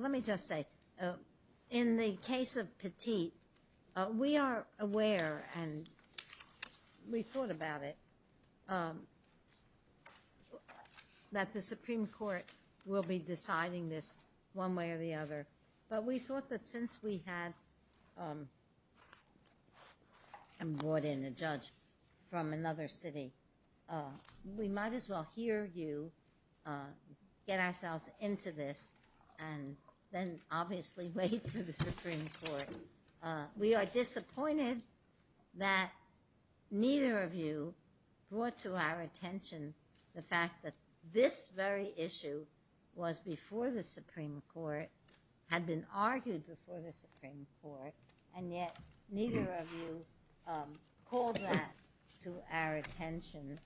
Let me just say, in the case of Petit, we are aware, and we thought about it, that the Supreme Court will be deciding this one way or the other, but we thought that since we had brought in a judge from another city, we might as well hear you get ourselves into this and then obviously wait for the Supreme Court. We are disappointed that neither of you brought to our attention the fact that this very issue was before the Supreme Court, had been argued before the Supreme Court, and yet neither of you called that to our attention.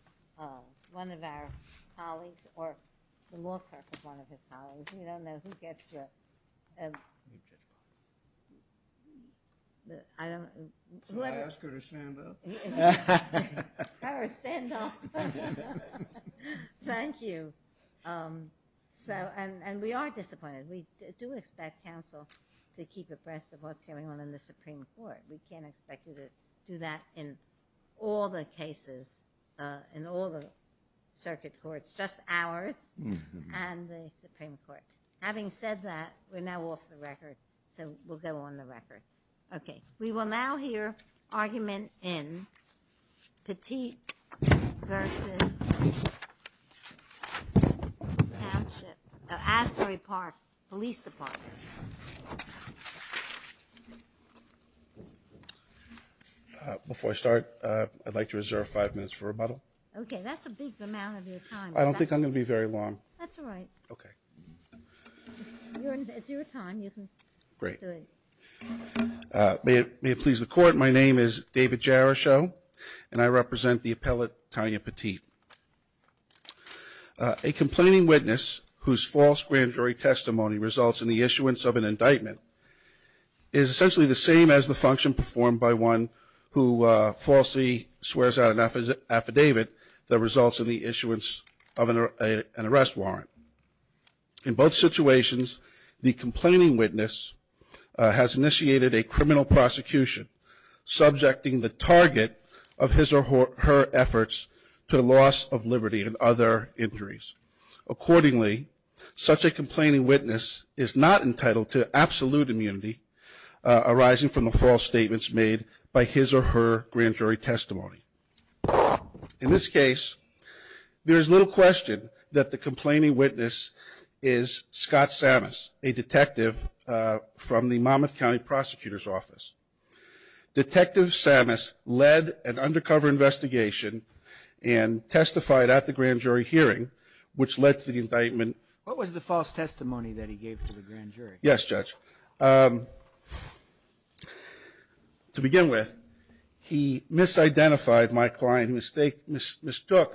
One of our colleagues, or the law clerk is one of his colleagues, we don't know who gets it, so I ask her to stand up, thank you. So, and we are disappointed. We do expect counsel to keep abreast of what's going on in the Supreme Court. We can't expect you to do that in all the cases, in all the circuit courts, just ours and the Supreme Court. Having said that, we're now off the record, so we'll go on the record. Okay, we will now hear argument in Petit versus Asbury Park Police Department. Before I start, I'd like to reserve five minutes for rebuttal. Okay, that's a big amount of your time. I don't think I'm going to be very long. That's all right. Okay. It's your time, you can do it. Great. May it please the Court, my name is David Jarachow, and I represent the appellate Tanya Petit. A complaining witness whose false grand jury testimony results in the issuance of an indictment is essentially the same as the function performed by one who falsely swears out an affidavit that results in the issuance of an arrest warrant. In both situations, the complaining witness has initiated a criminal prosecution subjecting the target of his or her efforts to the loss of liberty and other injuries. Accordingly, such a complaining witness is not entitled to absolute immunity arising from the false statements made by his or her grand jury testimony. In this case, there is little question that the complaining witness is Scott Samas, a detective from the Monmouth County Prosecutor's Office. Detective Samas led an undercover investigation and testified at the grand jury hearing, which led to the testimony that he gave to the grand jury. Yes, Judge. To begin with, he misidentified my client, mistook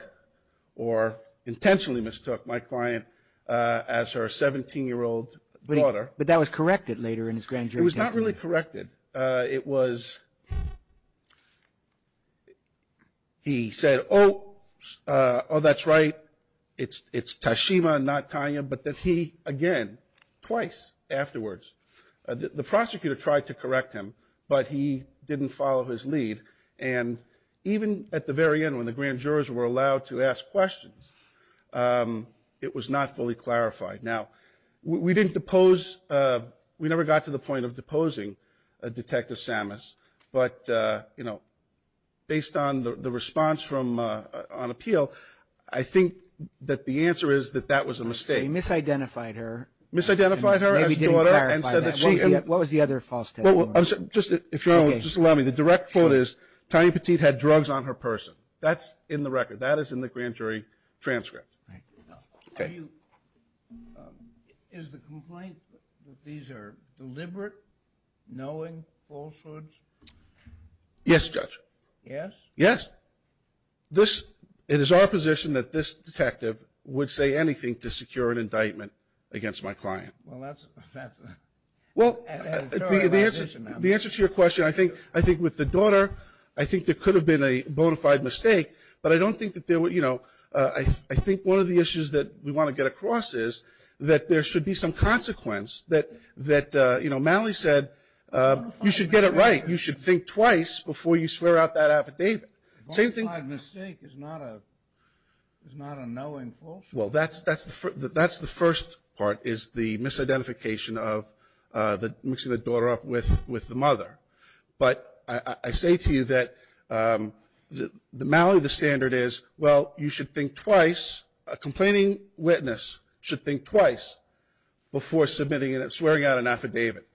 or intentionally mistook my client as her 17-year-old daughter. But that was corrected later in his grand jury testimony. It was not really corrected. It was, he said, oh, oh that's right, it's Tashima, not Tanya, but that he, again, twice afterwards. The prosecutor tried to correct him, but he didn't follow his lead. And even at the very end when the grand jurors were allowed to ask questions, it was not fully clarified. Now, we didn't depose, we never got to the point of deposing Detective Samas, but, you know, based on the response from, on appeal, I think that the answer is that that was a mistake. He misidentified her. Misidentified her as his daughter. Maybe he didn't clarify that. What was the other false testimony? Well, just, if you'll just allow me, the direct quote is, Tanya Petit had drugs on her person. That's in the record. That is in the grand jury transcript. Is the complaint that these are deliberate, knowing falsehoods? Yes, Judge. Yes? Yes. This, it is our position that this detective would say anything to secure an indictment against my client. Well, that's, that's an editorialization. The answer to your question, I think, I think with the daughter, I think there could have been a bona fide mistake, but I don't think that there were, you know, I think one of the issues that we want to get across is that there should be some consequence that, that, you know, Mallie said, you should get it right. You should think twice before you swear out that affidavit. The bona fide mistake is not a, is not a knowing falsehood. Well, that's, that's, that's the first part is the misidentification of the mixing the daughter up with, with the mother. But I say to you that the Mallie, the standard is, well, you should think twice. A complaining witness should think twice before submitting and swearing out an affidavit.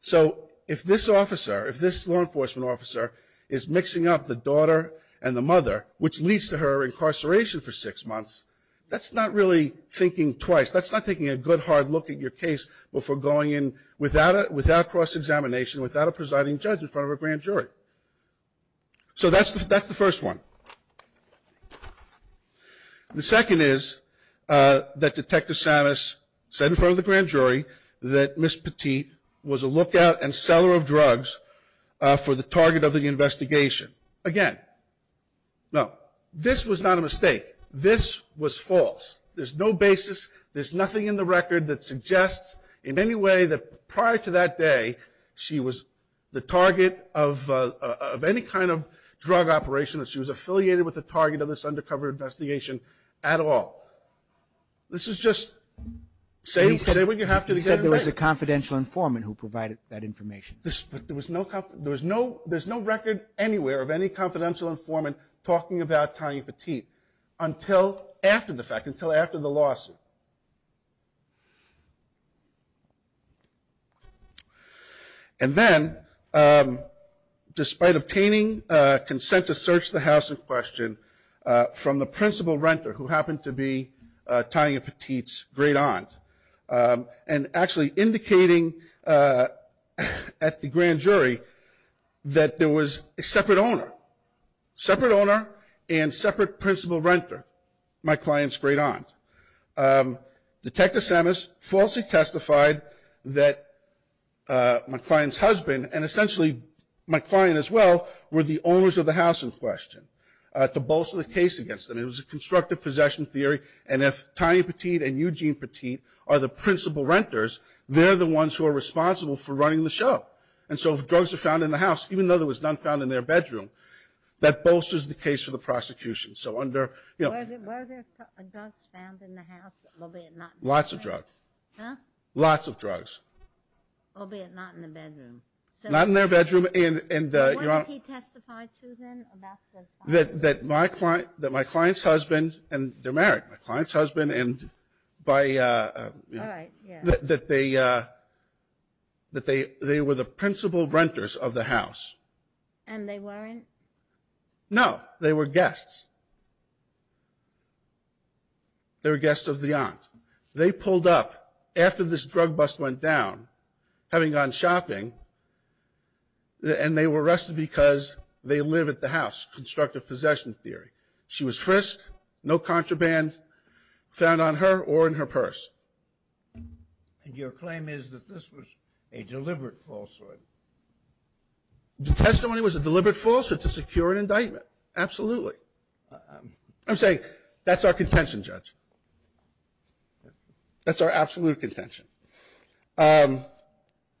So if this officer, if this law enforcement officer is mixing up the daughter and the mother, which leads to her incarceration for six months, that's not really thinking twice. That's not taking a good hard look at your case before going in without a, without cross-examination, without a presiding judge in front of a grand jury. So that's the, that's the first one. The second is that Detective Samas said in front of the grand jury that Miss Petit was a lookout and seller of drugs for the target of the investigation. Again, no, this was not a mistake. This was false. There's no basis. There's nothing in the record that suggests in any way that prior to that day, she was the target of, of any kind of drug operation that she was affiliated with the target of this undercover investigation at all. This is just, say, say what you have to say. There was a confidential informant who provided that information. There was no, there was no, there's no record anywhere of any confidential informant talking about Tanya Petit until after the fact, until after the lawsuit. And then, despite obtaining consent to search the house in question from the principal renter who happened to be Tanya Petit's great aunt, and actually indicating at the grand jury that there was a separate owner, separate owner and separate principal renter, my client's great aunt. Detective Samas falsely testified that my client's husband, and essentially my client as well, were the owners of the house in question, to bolster the case against them. It was a constructive possession theory. And if Tanya Petit and Eugene Petit are the principal renters, they're the ones who are responsible for running the show. And so if drugs are found in the house, even though there was none found in their bedroom, that bolsters the case for the prosecution. So under, you know. Were there, were there drugs found in the house, albeit not in the bedroom? Lots of drugs. Huh? Lots of drugs. Albeit not in the bedroom. Not in their bedroom, and, and, Your Honor. What did he testify to then about those drugs? That, that my client, that my client's husband, and they're married, my client's husband, and by. All right, yeah. That they, that they, they were the principal renters of the house. And they weren't? No, they were guests. They were guests of the aunt. They pulled up, after this drug bust went down, having gone shopping, and they were arrested because they live at the house, constructive possession theory. She was frisked, no contraband found on her or in her purse. And your claim is that this was a deliberate falsehood? The testimony was a deliberate falsehood to secure an indictment, absolutely. I'm saying, that's our contention, Judge. That's our absolute contention. I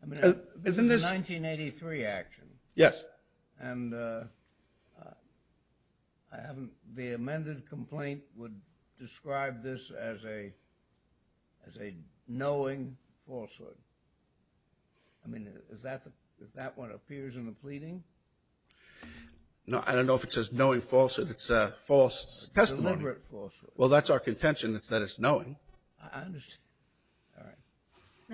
mean, this is a 1983 action. Yes. And I haven't, the amended complaint would describe this as a, as a knowing falsehood. I mean, is that the, if that one appears in the pleading? No, I don't know if it says knowing falsehood. It's a false testimony. A deliberate falsehood. Well, that's our contention, is that it's knowing. I understand. All right.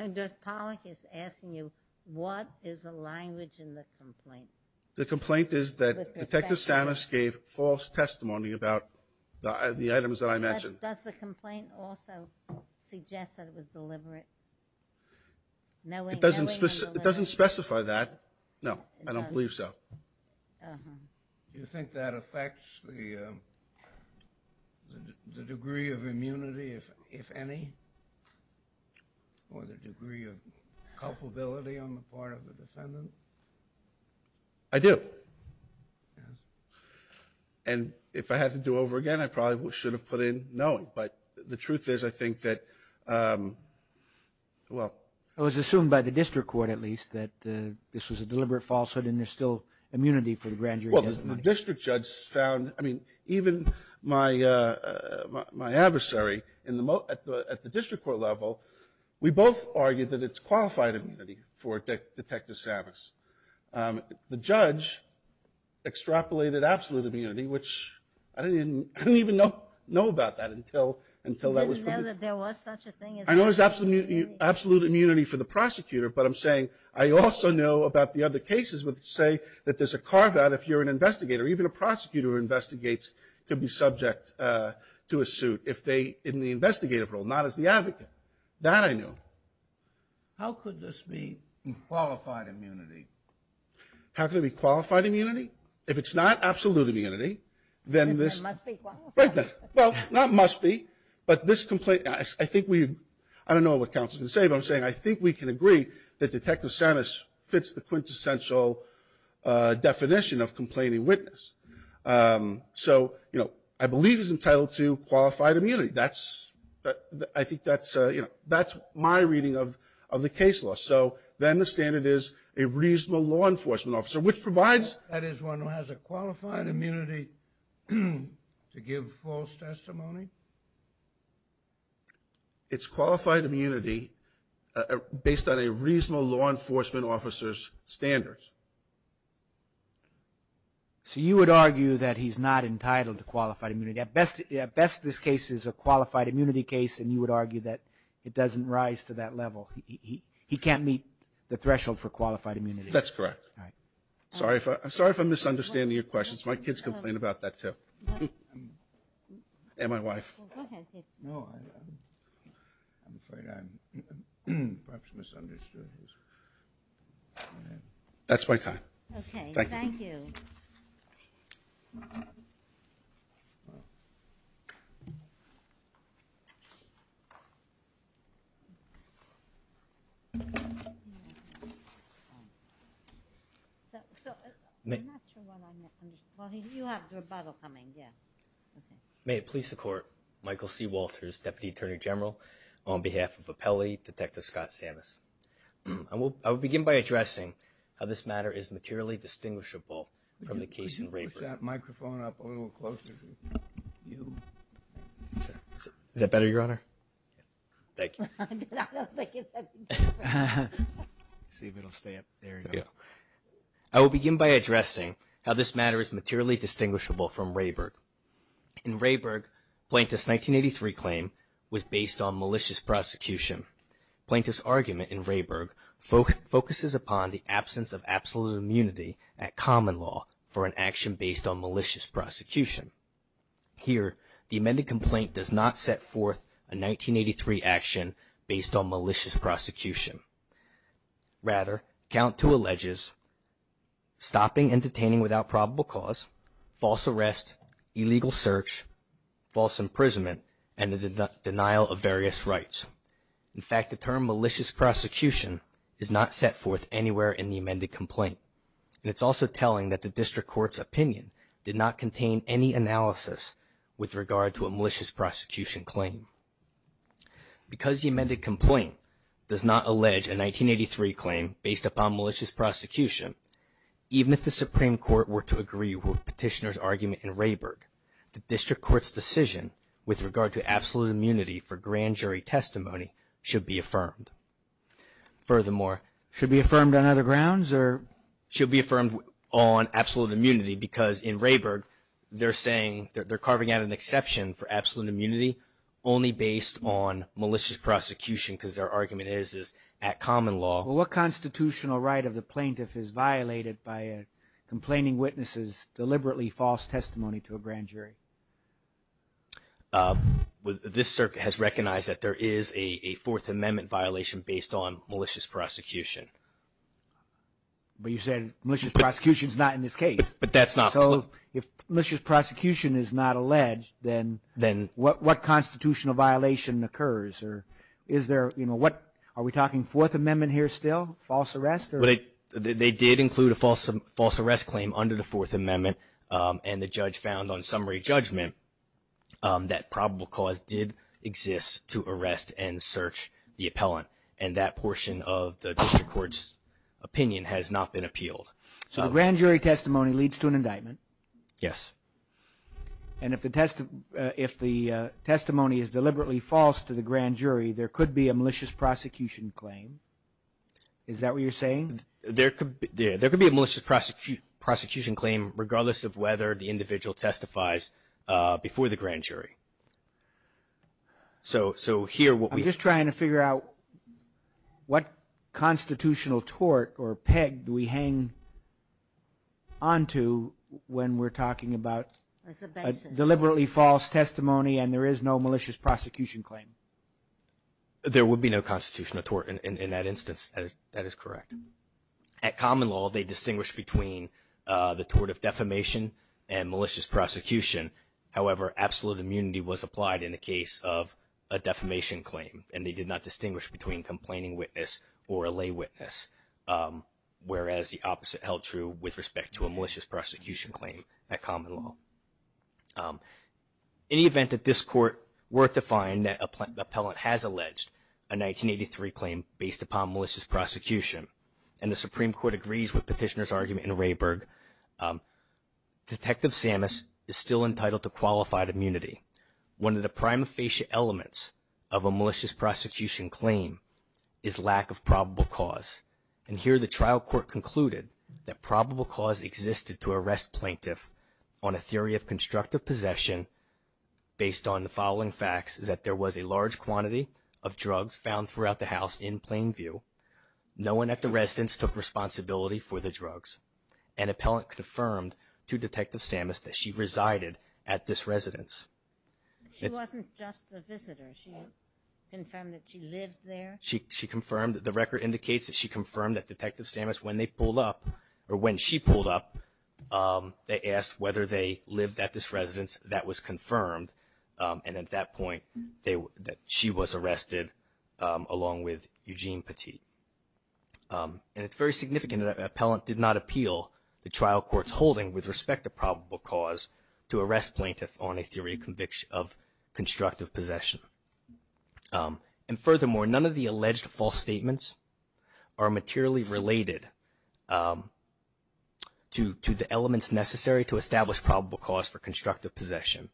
And Judge Pollack is asking you, what is the language in the complaint? The complaint is that Detective Samus gave false testimony about the items that I mentioned. Does the complaint also suggest that it was deliberate? Knowing. It doesn't specify that. No, I don't believe so. You think that affects the degree of immunity, if any? Or the degree of culpability on the part of the defendant? I do. Yes. And if I had to do over again, I probably should have put in knowing. But the truth is, I think that, well. I was assumed by the district court, at least, that this was a deliberate falsehood, and there's still immunity for the grand jury testimony. Well, the district judge found, I mean, even my, my adversary in the, at the district court level, we both argued that it's qualified immunity for Detective Samus. The judge extrapolated absolute immunity, which I didn't even know about that until, until that was. Didn't know that there was such a thing as. I know there's absolute immunity for the prosecutor, but I'm saying, I also know about the other cases which say that there's a carve out if you're an investigator. Even a prosecutor who investigates could be subject to a suit if they, in the investigative role, not as the advocate. That I knew. How could this be qualified immunity? How could it be qualified immunity? If it's not absolute immunity, then this. It must be qualified. Right there. Well, not must be, but this complaint, I think we, I don't know what counsel can say, but I'm saying I think we can agree that Detective Samus fits the quintessential definition of complaining witness. So, you know, I believe he's entitled to qualified immunity. That's, I think that's, you know, that's my reading of, of the case law. So, then the standard is a reasonable law enforcement officer, which provides. That is one who has a qualified immunity to give false testimony? It's qualified immunity based on a reasonable law enforcement officer's standards. So you would argue that he's not entitled to qualified immunity. At best, at best, this case is a qualified immunity case, and you would argue that it doesn't rise to that level. He can't meet the threshold for qualified immunity. That's correct. All right. Sorry if I, sorry if I'm misunderstanding your questions. My kids complain about that, too. And my wife. Well, go ahead, kid. No, I, I'm afraid I'm, perhaps misunderstood. That's my time. Okay, thank you. So, so, I'm not sure what I'm, well, you have the rebuttal coming, yeah, okay. May it please the court, Michael C. Walters, Deputy Attorney General, on behalf of Appellee Detective Scott Samus. I will, I will begin by addressing how this matter is materially distinguishable from the case in Rayburn. Push that microphone up a little closer. Is that better, your honor? Thank you. I don't think it's that. See if it'll stay up. There you go. I will begin by addressing how this matter is materially distinguishable from Rayburg. In Rayburg, Plaintiff's 1983 claim was based on malicious prosecution. Plaintiff's argument in Rayburg focuses upon the absence of absolute immunity at action based on malicious prosecution. Here, the amended complaint does not set forth a 1983 action based on malicious prosecution. Rather, count to alleges stopping and detaining without probable cause, false arrest, illegal search, false imprisonment, and the denial of various rights. In fact, the term malicious prosecution is not set forth anywhere in the amended complaint. And it's also telling that the district court's opinion did not contain any analysis with regard to a malicious prosecution claim. Because the amended complaint does not allege a 1983 claim based upon malicious prosecution, even if the Supreme Court were to agree with Petitioner's argument in Rayburg, the district court's decision with regard to absolute immunity for grand jury testimony should be affirmed. Furthermore, should be affirmed on other grounds or should be affirmed on absolute immunity because in Rayburg, they're saying they're carving out an exception for absolute immunity only based on malicious prosecution because their argument is at common law. What constitutional right of the plaintiff is violated by a complaining witnesses deliberately false testimony to a grand jury? This circuit has recognized that there is a Fourth Amendment violation based on malicious prosecution. But you said malicious prosecution is not in this case. But that's not. So if malicious prosecution is not alleged, then what constitutional violation occurs? Are we talking Fourth Amendment here still? False arrest? They did include a false arrest claim under the Fourth Amendment. And the judge found on summary judgment that probable cause did exist to arrest and search the appellant. And that portion of the district court's opinion has not been appealed. So grand jury testimony leads to an indictment. Yes. And if the testimony is deliberately false to the grand jury, there could be a malicious prosecution claim. Is that what you're saying? There could be a malicious prosecution claim regardless of whether the individual testifies before the grand jury. So here what we- I'm just trying to figure out what constitutional tort or peg do we hang onto when we're talking about deliberately false testimony and there is no malicious prosecution claim. There would be no constitutional tort in that instance. That is correct. At common law, they distinguish between the tort of defamation and malicious prosecution. However, absolute immunity was applied in the case of a defamation claim, and they did not distinguish between complaining witness or a lay witness, whereas the opposite held true with respect to a malicious prosecution claim at common law. In the event that this court were to find that an appellant has alleged a 1983 claim based upon malicious prosecution and the Supreme Court agrees with Petitioner's argument in Rayburg, Detective Samus is still entitled to qualified immunity. One of the prima facie elements of a malicious prosecution claim is lack of probable cause. And here the trial court concluded that probable cause existed to arrest plaintiff on a theory of constructive possession based on the following facts is that there was a large quantity of drugs found throughout the house in Plainview. No one at the residence took responsibility for the drugs. An appellant confirmed to Detective Samus that she resided at this residence. She wasn't just a visitor. She confirmed that she lived there. She confirmed that the record indicates that she confirmed that Detective Samus, when they pulled up, or when she pulled up, they asked whether they lived at this residence. That was confirmed. And at that point, she was arrested along with Eugene Petit. And it's very significant that an appellant did not appeal the trial court's holding with respect to probable cause to arrest plaintiff on a theory of constructive possession. And furthermore, none of the alleged false statements are materially related to the elements necessary to establish probable cause for constructive possession.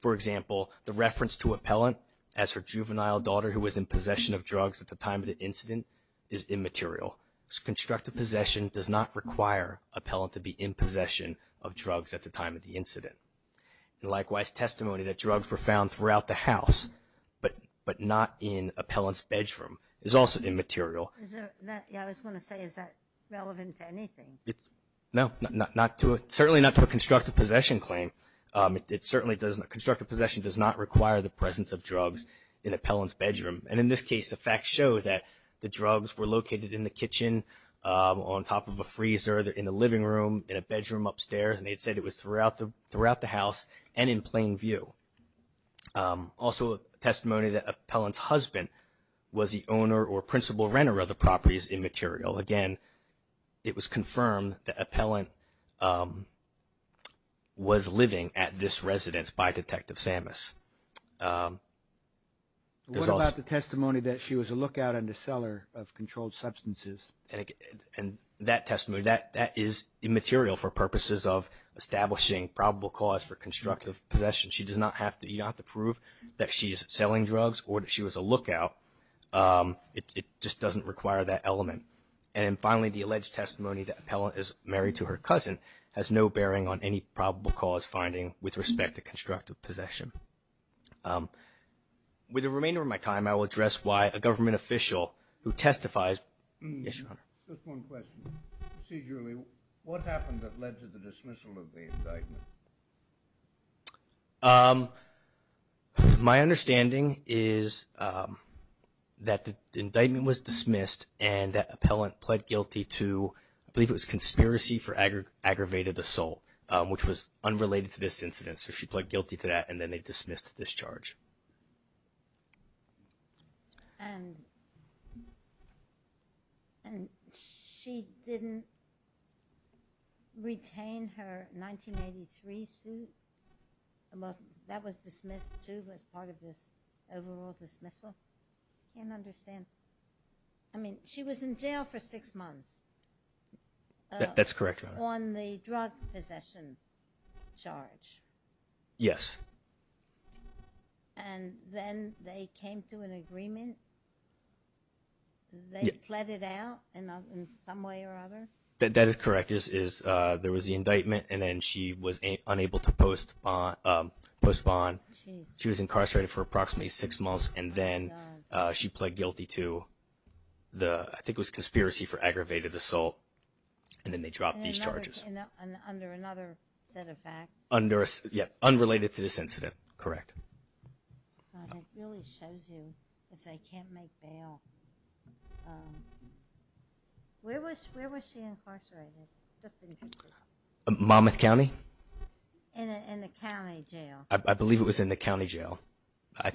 For example, the reference to appellant as her juvenile daughter who was in possession of drugs at the time of the incident is immaterial. Constructive possession does not require appellant to be in possession of drugs at the time of the incident. Likewise, testimony that drugs were found throughout the house but not in appellant's bedroom is also immaterial. I was going to say, is that relevant to anything? No, certainly not to a constructive possession claim. Constructive possession does not require the presence of drugs in appellant's bedroom. And in this case, the facts show that the drugs were located in the kitchen, on top of a freezer, in the living room, in a bedroom upstairs. And they said it was throughout the house and in plain view. Also, testimony that appellant's husband was the owner or principal renter of the property is immaterial. Again, it was confirmed that appellant was living at this residence by Detective Samus. What about the testimony that she was a lookout and a seller of controlled substances? And that testimony, that is immaterial for purposes of establishing probable cause for constructive possession. She does not have to prove that she is selling drugs or that she was a lookout. It just doesn't require that element. And finally, the alleged testimony that appellant is married to her cousin has no bearing on any probable cause finding with respect to constructive possession. With the remainder of my time, I will address why a government official who testifies Yes, Your Honor. Just one question. Procedurally, what happened that led to the dismissal of the indictment? My understanding is that the indictment was dismissed and that appellant pled guilty to, I believe it was conspiracy for aggravated assault, which was unrelated to this incident. So she pled guilty to that and then they dismissed this charge. And she didn't retain her 1983 suit? That was dismissed too as part of this overall dismissal? I can't understand. I mean, she was in jail for six months. That's correct, Your Honor. On the drug possession charge? Yes. And then they came to an agreement? They pled it out in some way or other? That is correct. There was the indictment and then she was unable to postpone. She was incarcerated for approximately six months and then she pled guilty to the, I think it was conspiracy for aggravated assault. And then they dropped these charges. Under another set of facts? Yes, unrelated to this incident, correct. It really shows you that they can't make bail. Where was she incarcerated? Monmouth County? In a county jail. I believe it was in a county jail.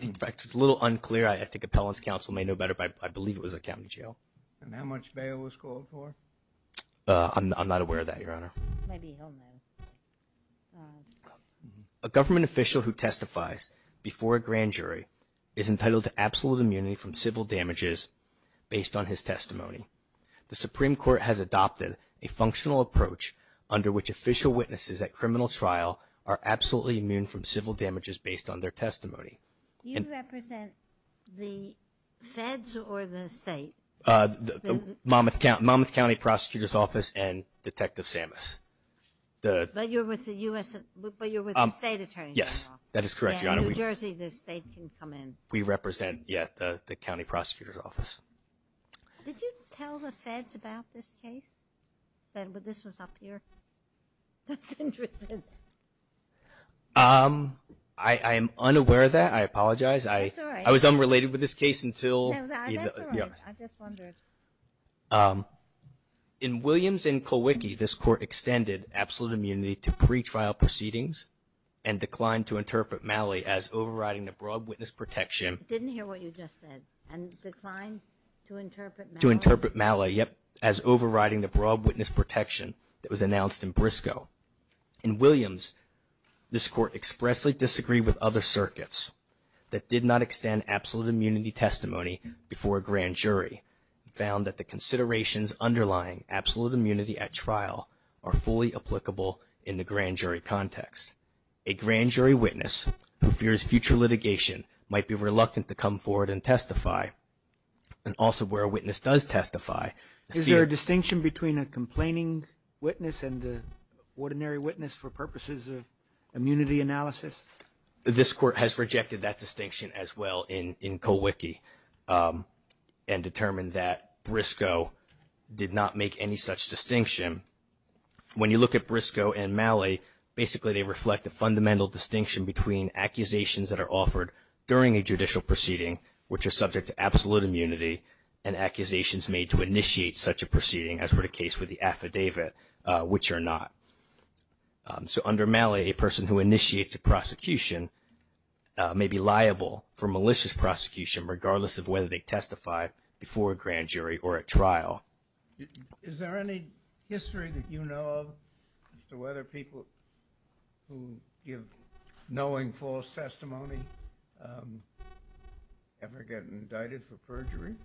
In fact, it's a little unclear. I think appellant's counsel may know better, but I believe it was a county jail. And how much bail was called for? I'm not aware of that, Your Honor. Maybe he'll know. A government official who testifies before a grand jury is entitled to absolute immunity from civil damages based on his testimony. The Supreme Court has adopted a functional approach under which official witnesses at criminal trial are absolutely immune from civil damages based on their testimony. Do you represent the feds or the state? The Monmouth County Prosecutor's Office and Detective Samus. But you're with the state attorney. Yes, that is correct, Your Honor. In New Jersey, the state can come in. We represent the county prosecutor's office. Did you tell the feds about this case, that this was up here? I was interested. I am unaware of that. I apologize. That's all right. I was unrelated with this case until you. That's all right. I just wondered. In Williams and Colwicky, this court extended absolute immunity to pretrial proceedings and declined to interpret Malley as overriding the broad witness protection. I didn't hear what you just said. And declined to interpret Malley? To interpret Malley, yep, as overriding the broad witness protection that was announced in Briscoe. In Williams, this court expressly disagreed with other circuits that did not extend absolute immunity testimony before a grand jury and found that the considerations underlying absolute immunity at trial are fully applicable in the grand jury context. A grand jury witness who fears future litigation might be reluctant to come forward and testify. And also where a witness does testify. Is there a distinction between a complaining witness and the ordinary witness for purposes of immunity analysis? This court has rejected that distinction as well in Colwicky and determined that Briscoe did not make any such distinction. When you look at Briscoe and Malley, basically they reflect a fundamental distinction between accusations that are offered during a judicial proceeding which are subject to absolute immunity and accusations made to initiate such a proceeding as were the case with the affidavit, which are not. So under Malley, a person who initiates a prosecution may be liable for malicious prosecution regardless of whether they testified before a grand jury or at trial. Is there any history that you know of as to whether people who give knowing false testimony ever get indicted for perjury?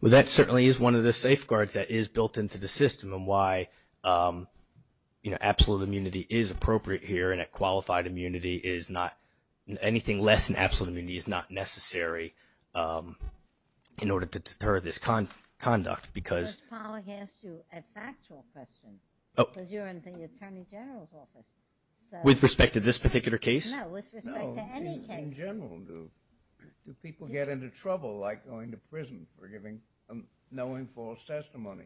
Well, that certainly is one of the safeguards that is built into the system and why absolute immunity is appropriate here and that qualified immunity is not. Anything less than absolute immunity is not necessary in order to deter this conduct because – Judge Pollack asked you a factual question because you're in the Attorney General's office. With respect to this particular case? No, with respect to any case. In general, do people get into trouble like going to prison for giving knowing false testimony,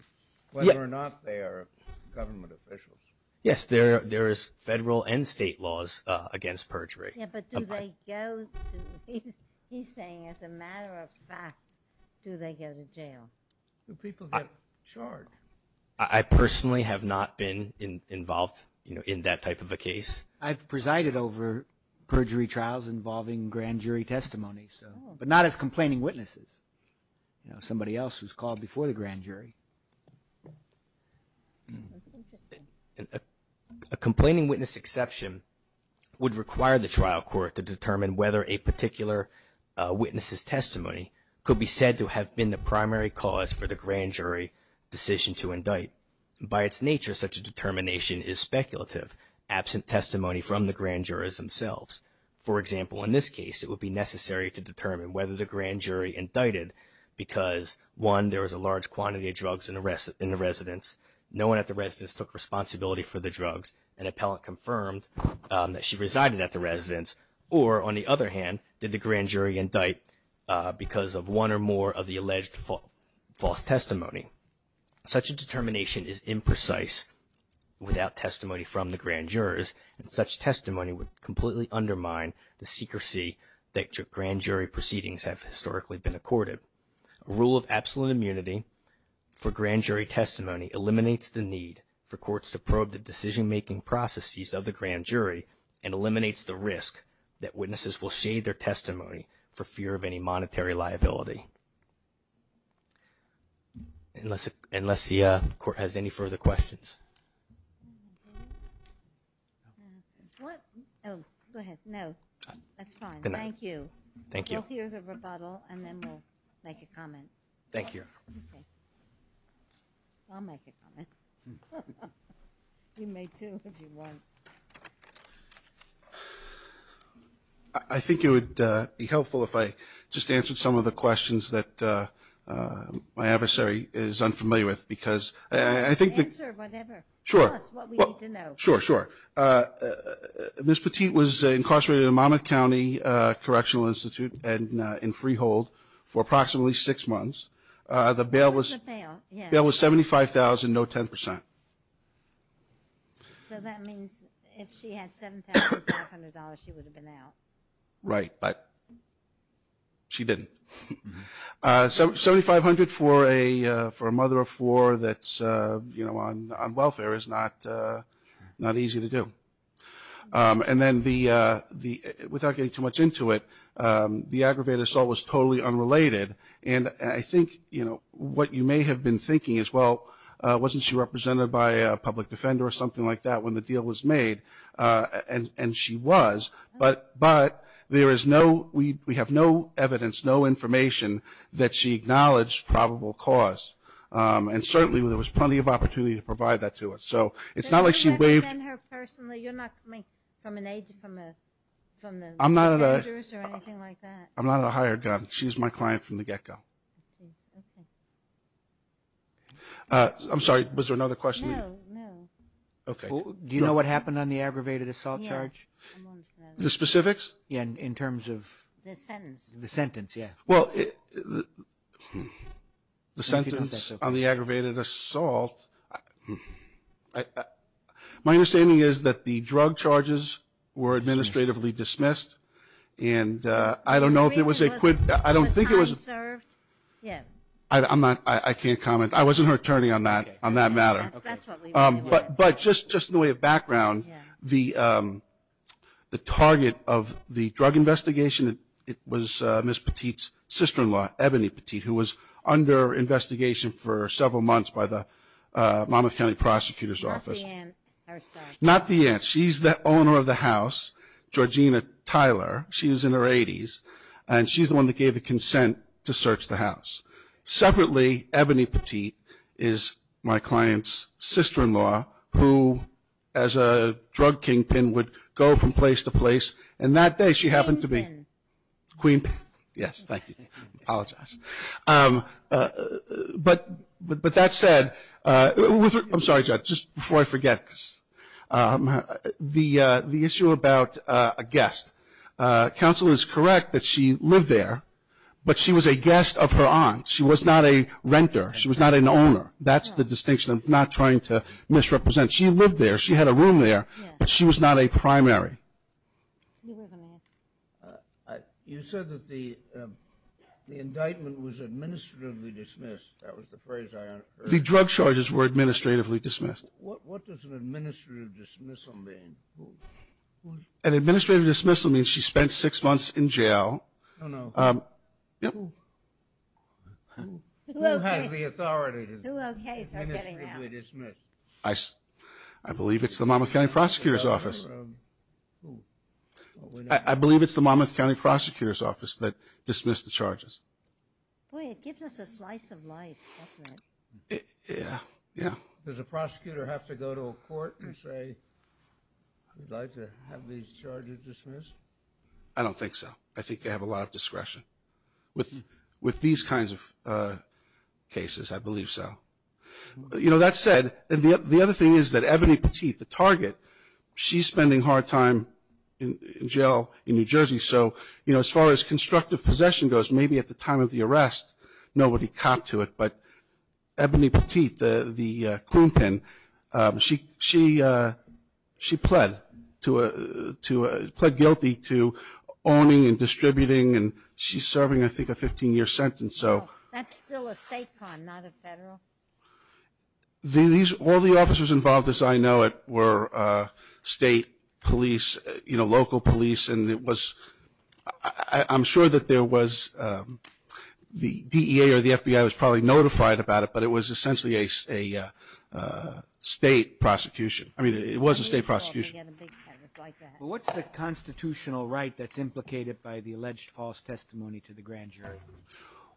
whether or not they are government officials? Yes, there is federal and state laws against perjury. Yeah, but do they go to – he's saying as a matter of fact, do they go to jail? Do people get charged? I personally have not been involved in that type of a case. I've presided over perjury trials involving grand jury testimony, but not as complaining witnesses, somebody else who's called before the grand jury. A complaining witness exception would require the trial court to determine whether a particular witness's testimony could be said to have been the primary cause for the grand jury decision to indict. By its nature, such a determination is speculative, absent testimony from the grand jurors themselves. For example, in this case, it would be necessary to determine whether the grand jury indicted because, one, there was a large quantity of drugs in the residence, no one at the residence took responsibility for the drugs, an appellant confirmed that she resided at the residence, or, on the other hand, did the grand jury indict because of one or more of the alleged false testimony. Such a determination is imprecise without testimony from the grand jurors, and such testimony would completely undermine the secrecy that grand jury proceedings have historically been accorded. A rule of absolute immunity for grand jury testimony eliminates the need for courts to probe the decision-making processes of the grand jury and eliminates the risk that witnesses will shade their testimony for fear of any monetary liability. Unless the court has any further questions. What? Oh, go ahead. No, that's fine. Thank you. Thank you. We'll hear the rebuttal, and then we'll make a comment. Thank you. Okay. I'll make a comment. You may, too, if you want. I think it would be helpful if I just answered some of the questions that my adversary is unfamiliar with. Answer whatever. Sure. Tell us what we need to know. Sure, sure. Ms. Petit was incarcerated in Monmouth County Correctional Institute and in freehold for approximately six months. What was the bail? The bail was $75,000, no 10%. So that means if she had $7,500, she would have been out. Right, but she didn't. $7,500 for a mother of four that's, you know, on welfare is not easy to do. And then without getting too much into it, the aggravated assault was totally unrelated. And I think, you know, what you may have been thinking is, well, wasn't she represented by a public defender or something like that when the deal was made? And she was. But there is no, we have no evidence, no information that she acknowledged probable cause. And certainly there was plenty of opportunity to provide that to us. So it's not like she waived. You're representing her personally? You're not, I mean, from an age, from the defenders or anything like that? I'm not a hired gun. She was my client from the get-go. I'm sorry, was there another question? No, no. Okay. Do you know what happened on the aggravated assault charge? The specifics? Yeah, in terms of? The sentence. The sentence, yeah. Well, the sentence on the aggravated assault. My understanding is that the drug charges were administratively dismissed. And I don't know if it was a quid. I don't think it was. Was time served? Yeah. I'm not, I can't comment. I wasn't her attorney on that, on that matter. Okay. That's what we wanted to know. But just in the way of background, the target of the drug investigation, it was Ms. Petit's sister-in-law, Ebony Petit, who was under investigation for several months by the Monmouth County Prosecutor's Office. Not the aunt? Not the aunt. She's the owner of the house, Georgina Tyler. She was in her 80s. And she's the one that gave the consent to search the house. Separately, Ebony Petit is my client's sister-in-law, who as a drug kingpin would go from place to place. And that day she happened to be queen. Yes, thank you. I apologize. But that said, I'm sorry, Judge, just before I forget, the issue about a guest. Counsel is correct that she lived there, but she was a guest of her aunt. She was not a renter. She was not an owner. That's the distinction. I'm not trying to misrepresent. She lived there. She had a room there, but she was not a primary. You said that the indictment was administratively dismissed. That was the phrase I heard. The drug charges were administratively dismissed. What does an administrative dismissal mean? An administrative dismissal means she spent six months in jail. Oh, no. Yep. Who has the authority to administratively dismiss? I believe it's the Monmouth County Prosecutor's Office. I believe it's the Monmouth County Prosecutor's Office that dismissed the charges. Boy, it gives us a slice of life, doesn't it? Yeah, yeah. Does a prosecutor have to go to a court and say, I'd like to have these charges dismissed? I don't think so. I think they have a lot of discretion. With these kinds of cases, I believe so. You know, that said, the other thing is that Ebony Petit, the target, she's spending hard time in jail in New Jersey. So, you know, as far as constructive possession goes, maybe at the time of the arrest nobody copped to it. But Ebony Petit, the clean pin, she pled guilty to owning and distributing and she's serving, I think, a 15-year sentence. That's still a state con, not a federal. All the officers involved, as I know it, were state police, you know, local police. I'm sure that there was the DEA or the FBI was probably notified about it, but it was essentially a state prosecution. I mean, it was a state prosecution. Well, what's the constitutional right that's implicated by the alleged false testimony to the grand jury?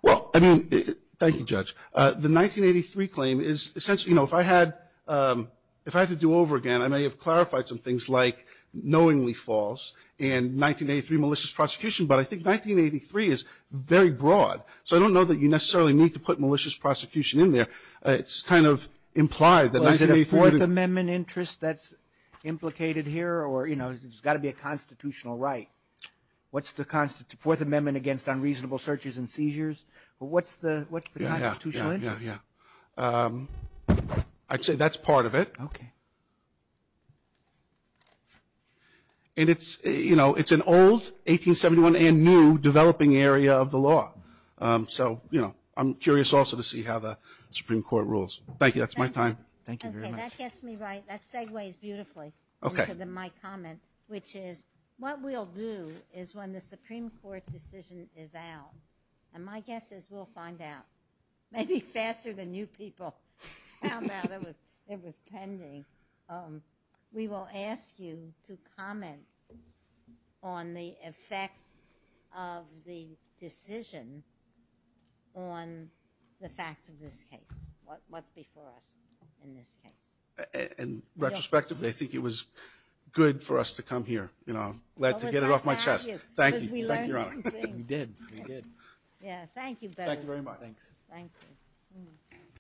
Well, I mean, thank you, Judge. The 1983 claim is essentially, you know, if I had to do over again, I may have clarified some things like knowingly false and 1983 malicious prosecution. But I think 1983 is very broad. So I don't know that you necessarily need to put malicious prosecution in there. It's kind of implied that 1983. Was it a Fourth Amendment interest that's implicated here or, you know, it's got to be a constitutional right? What's the Fourth Amendment against unreasonable searches and seizures? What's the constitutional interest? Yeah, yeah, yeah, yeah. I'd say that's part of it. Okay. And it's, you know, it's an old 1871 and new developing area of the law. So, you know, I'm curious also to see how the Supreme Court rules. Thank you. That's my time. Thank you very much. Okay. That gets me right. That segues beautifully into my comment, which is what we'll do is when the Supreme Court decision is out, and my guess is we'll find out. Maybe faster than you people found out. It was pending. We will ask you to comment on the effect of the decision on the facts of this case, what's before us in this case. And retrospectively, I think it was good for us to come here. You know, I'm glad to get it off my chest. Thank you. We learned some things. We did. We did. Yeah, thank you. Thank you very much. Thanks. Thank you.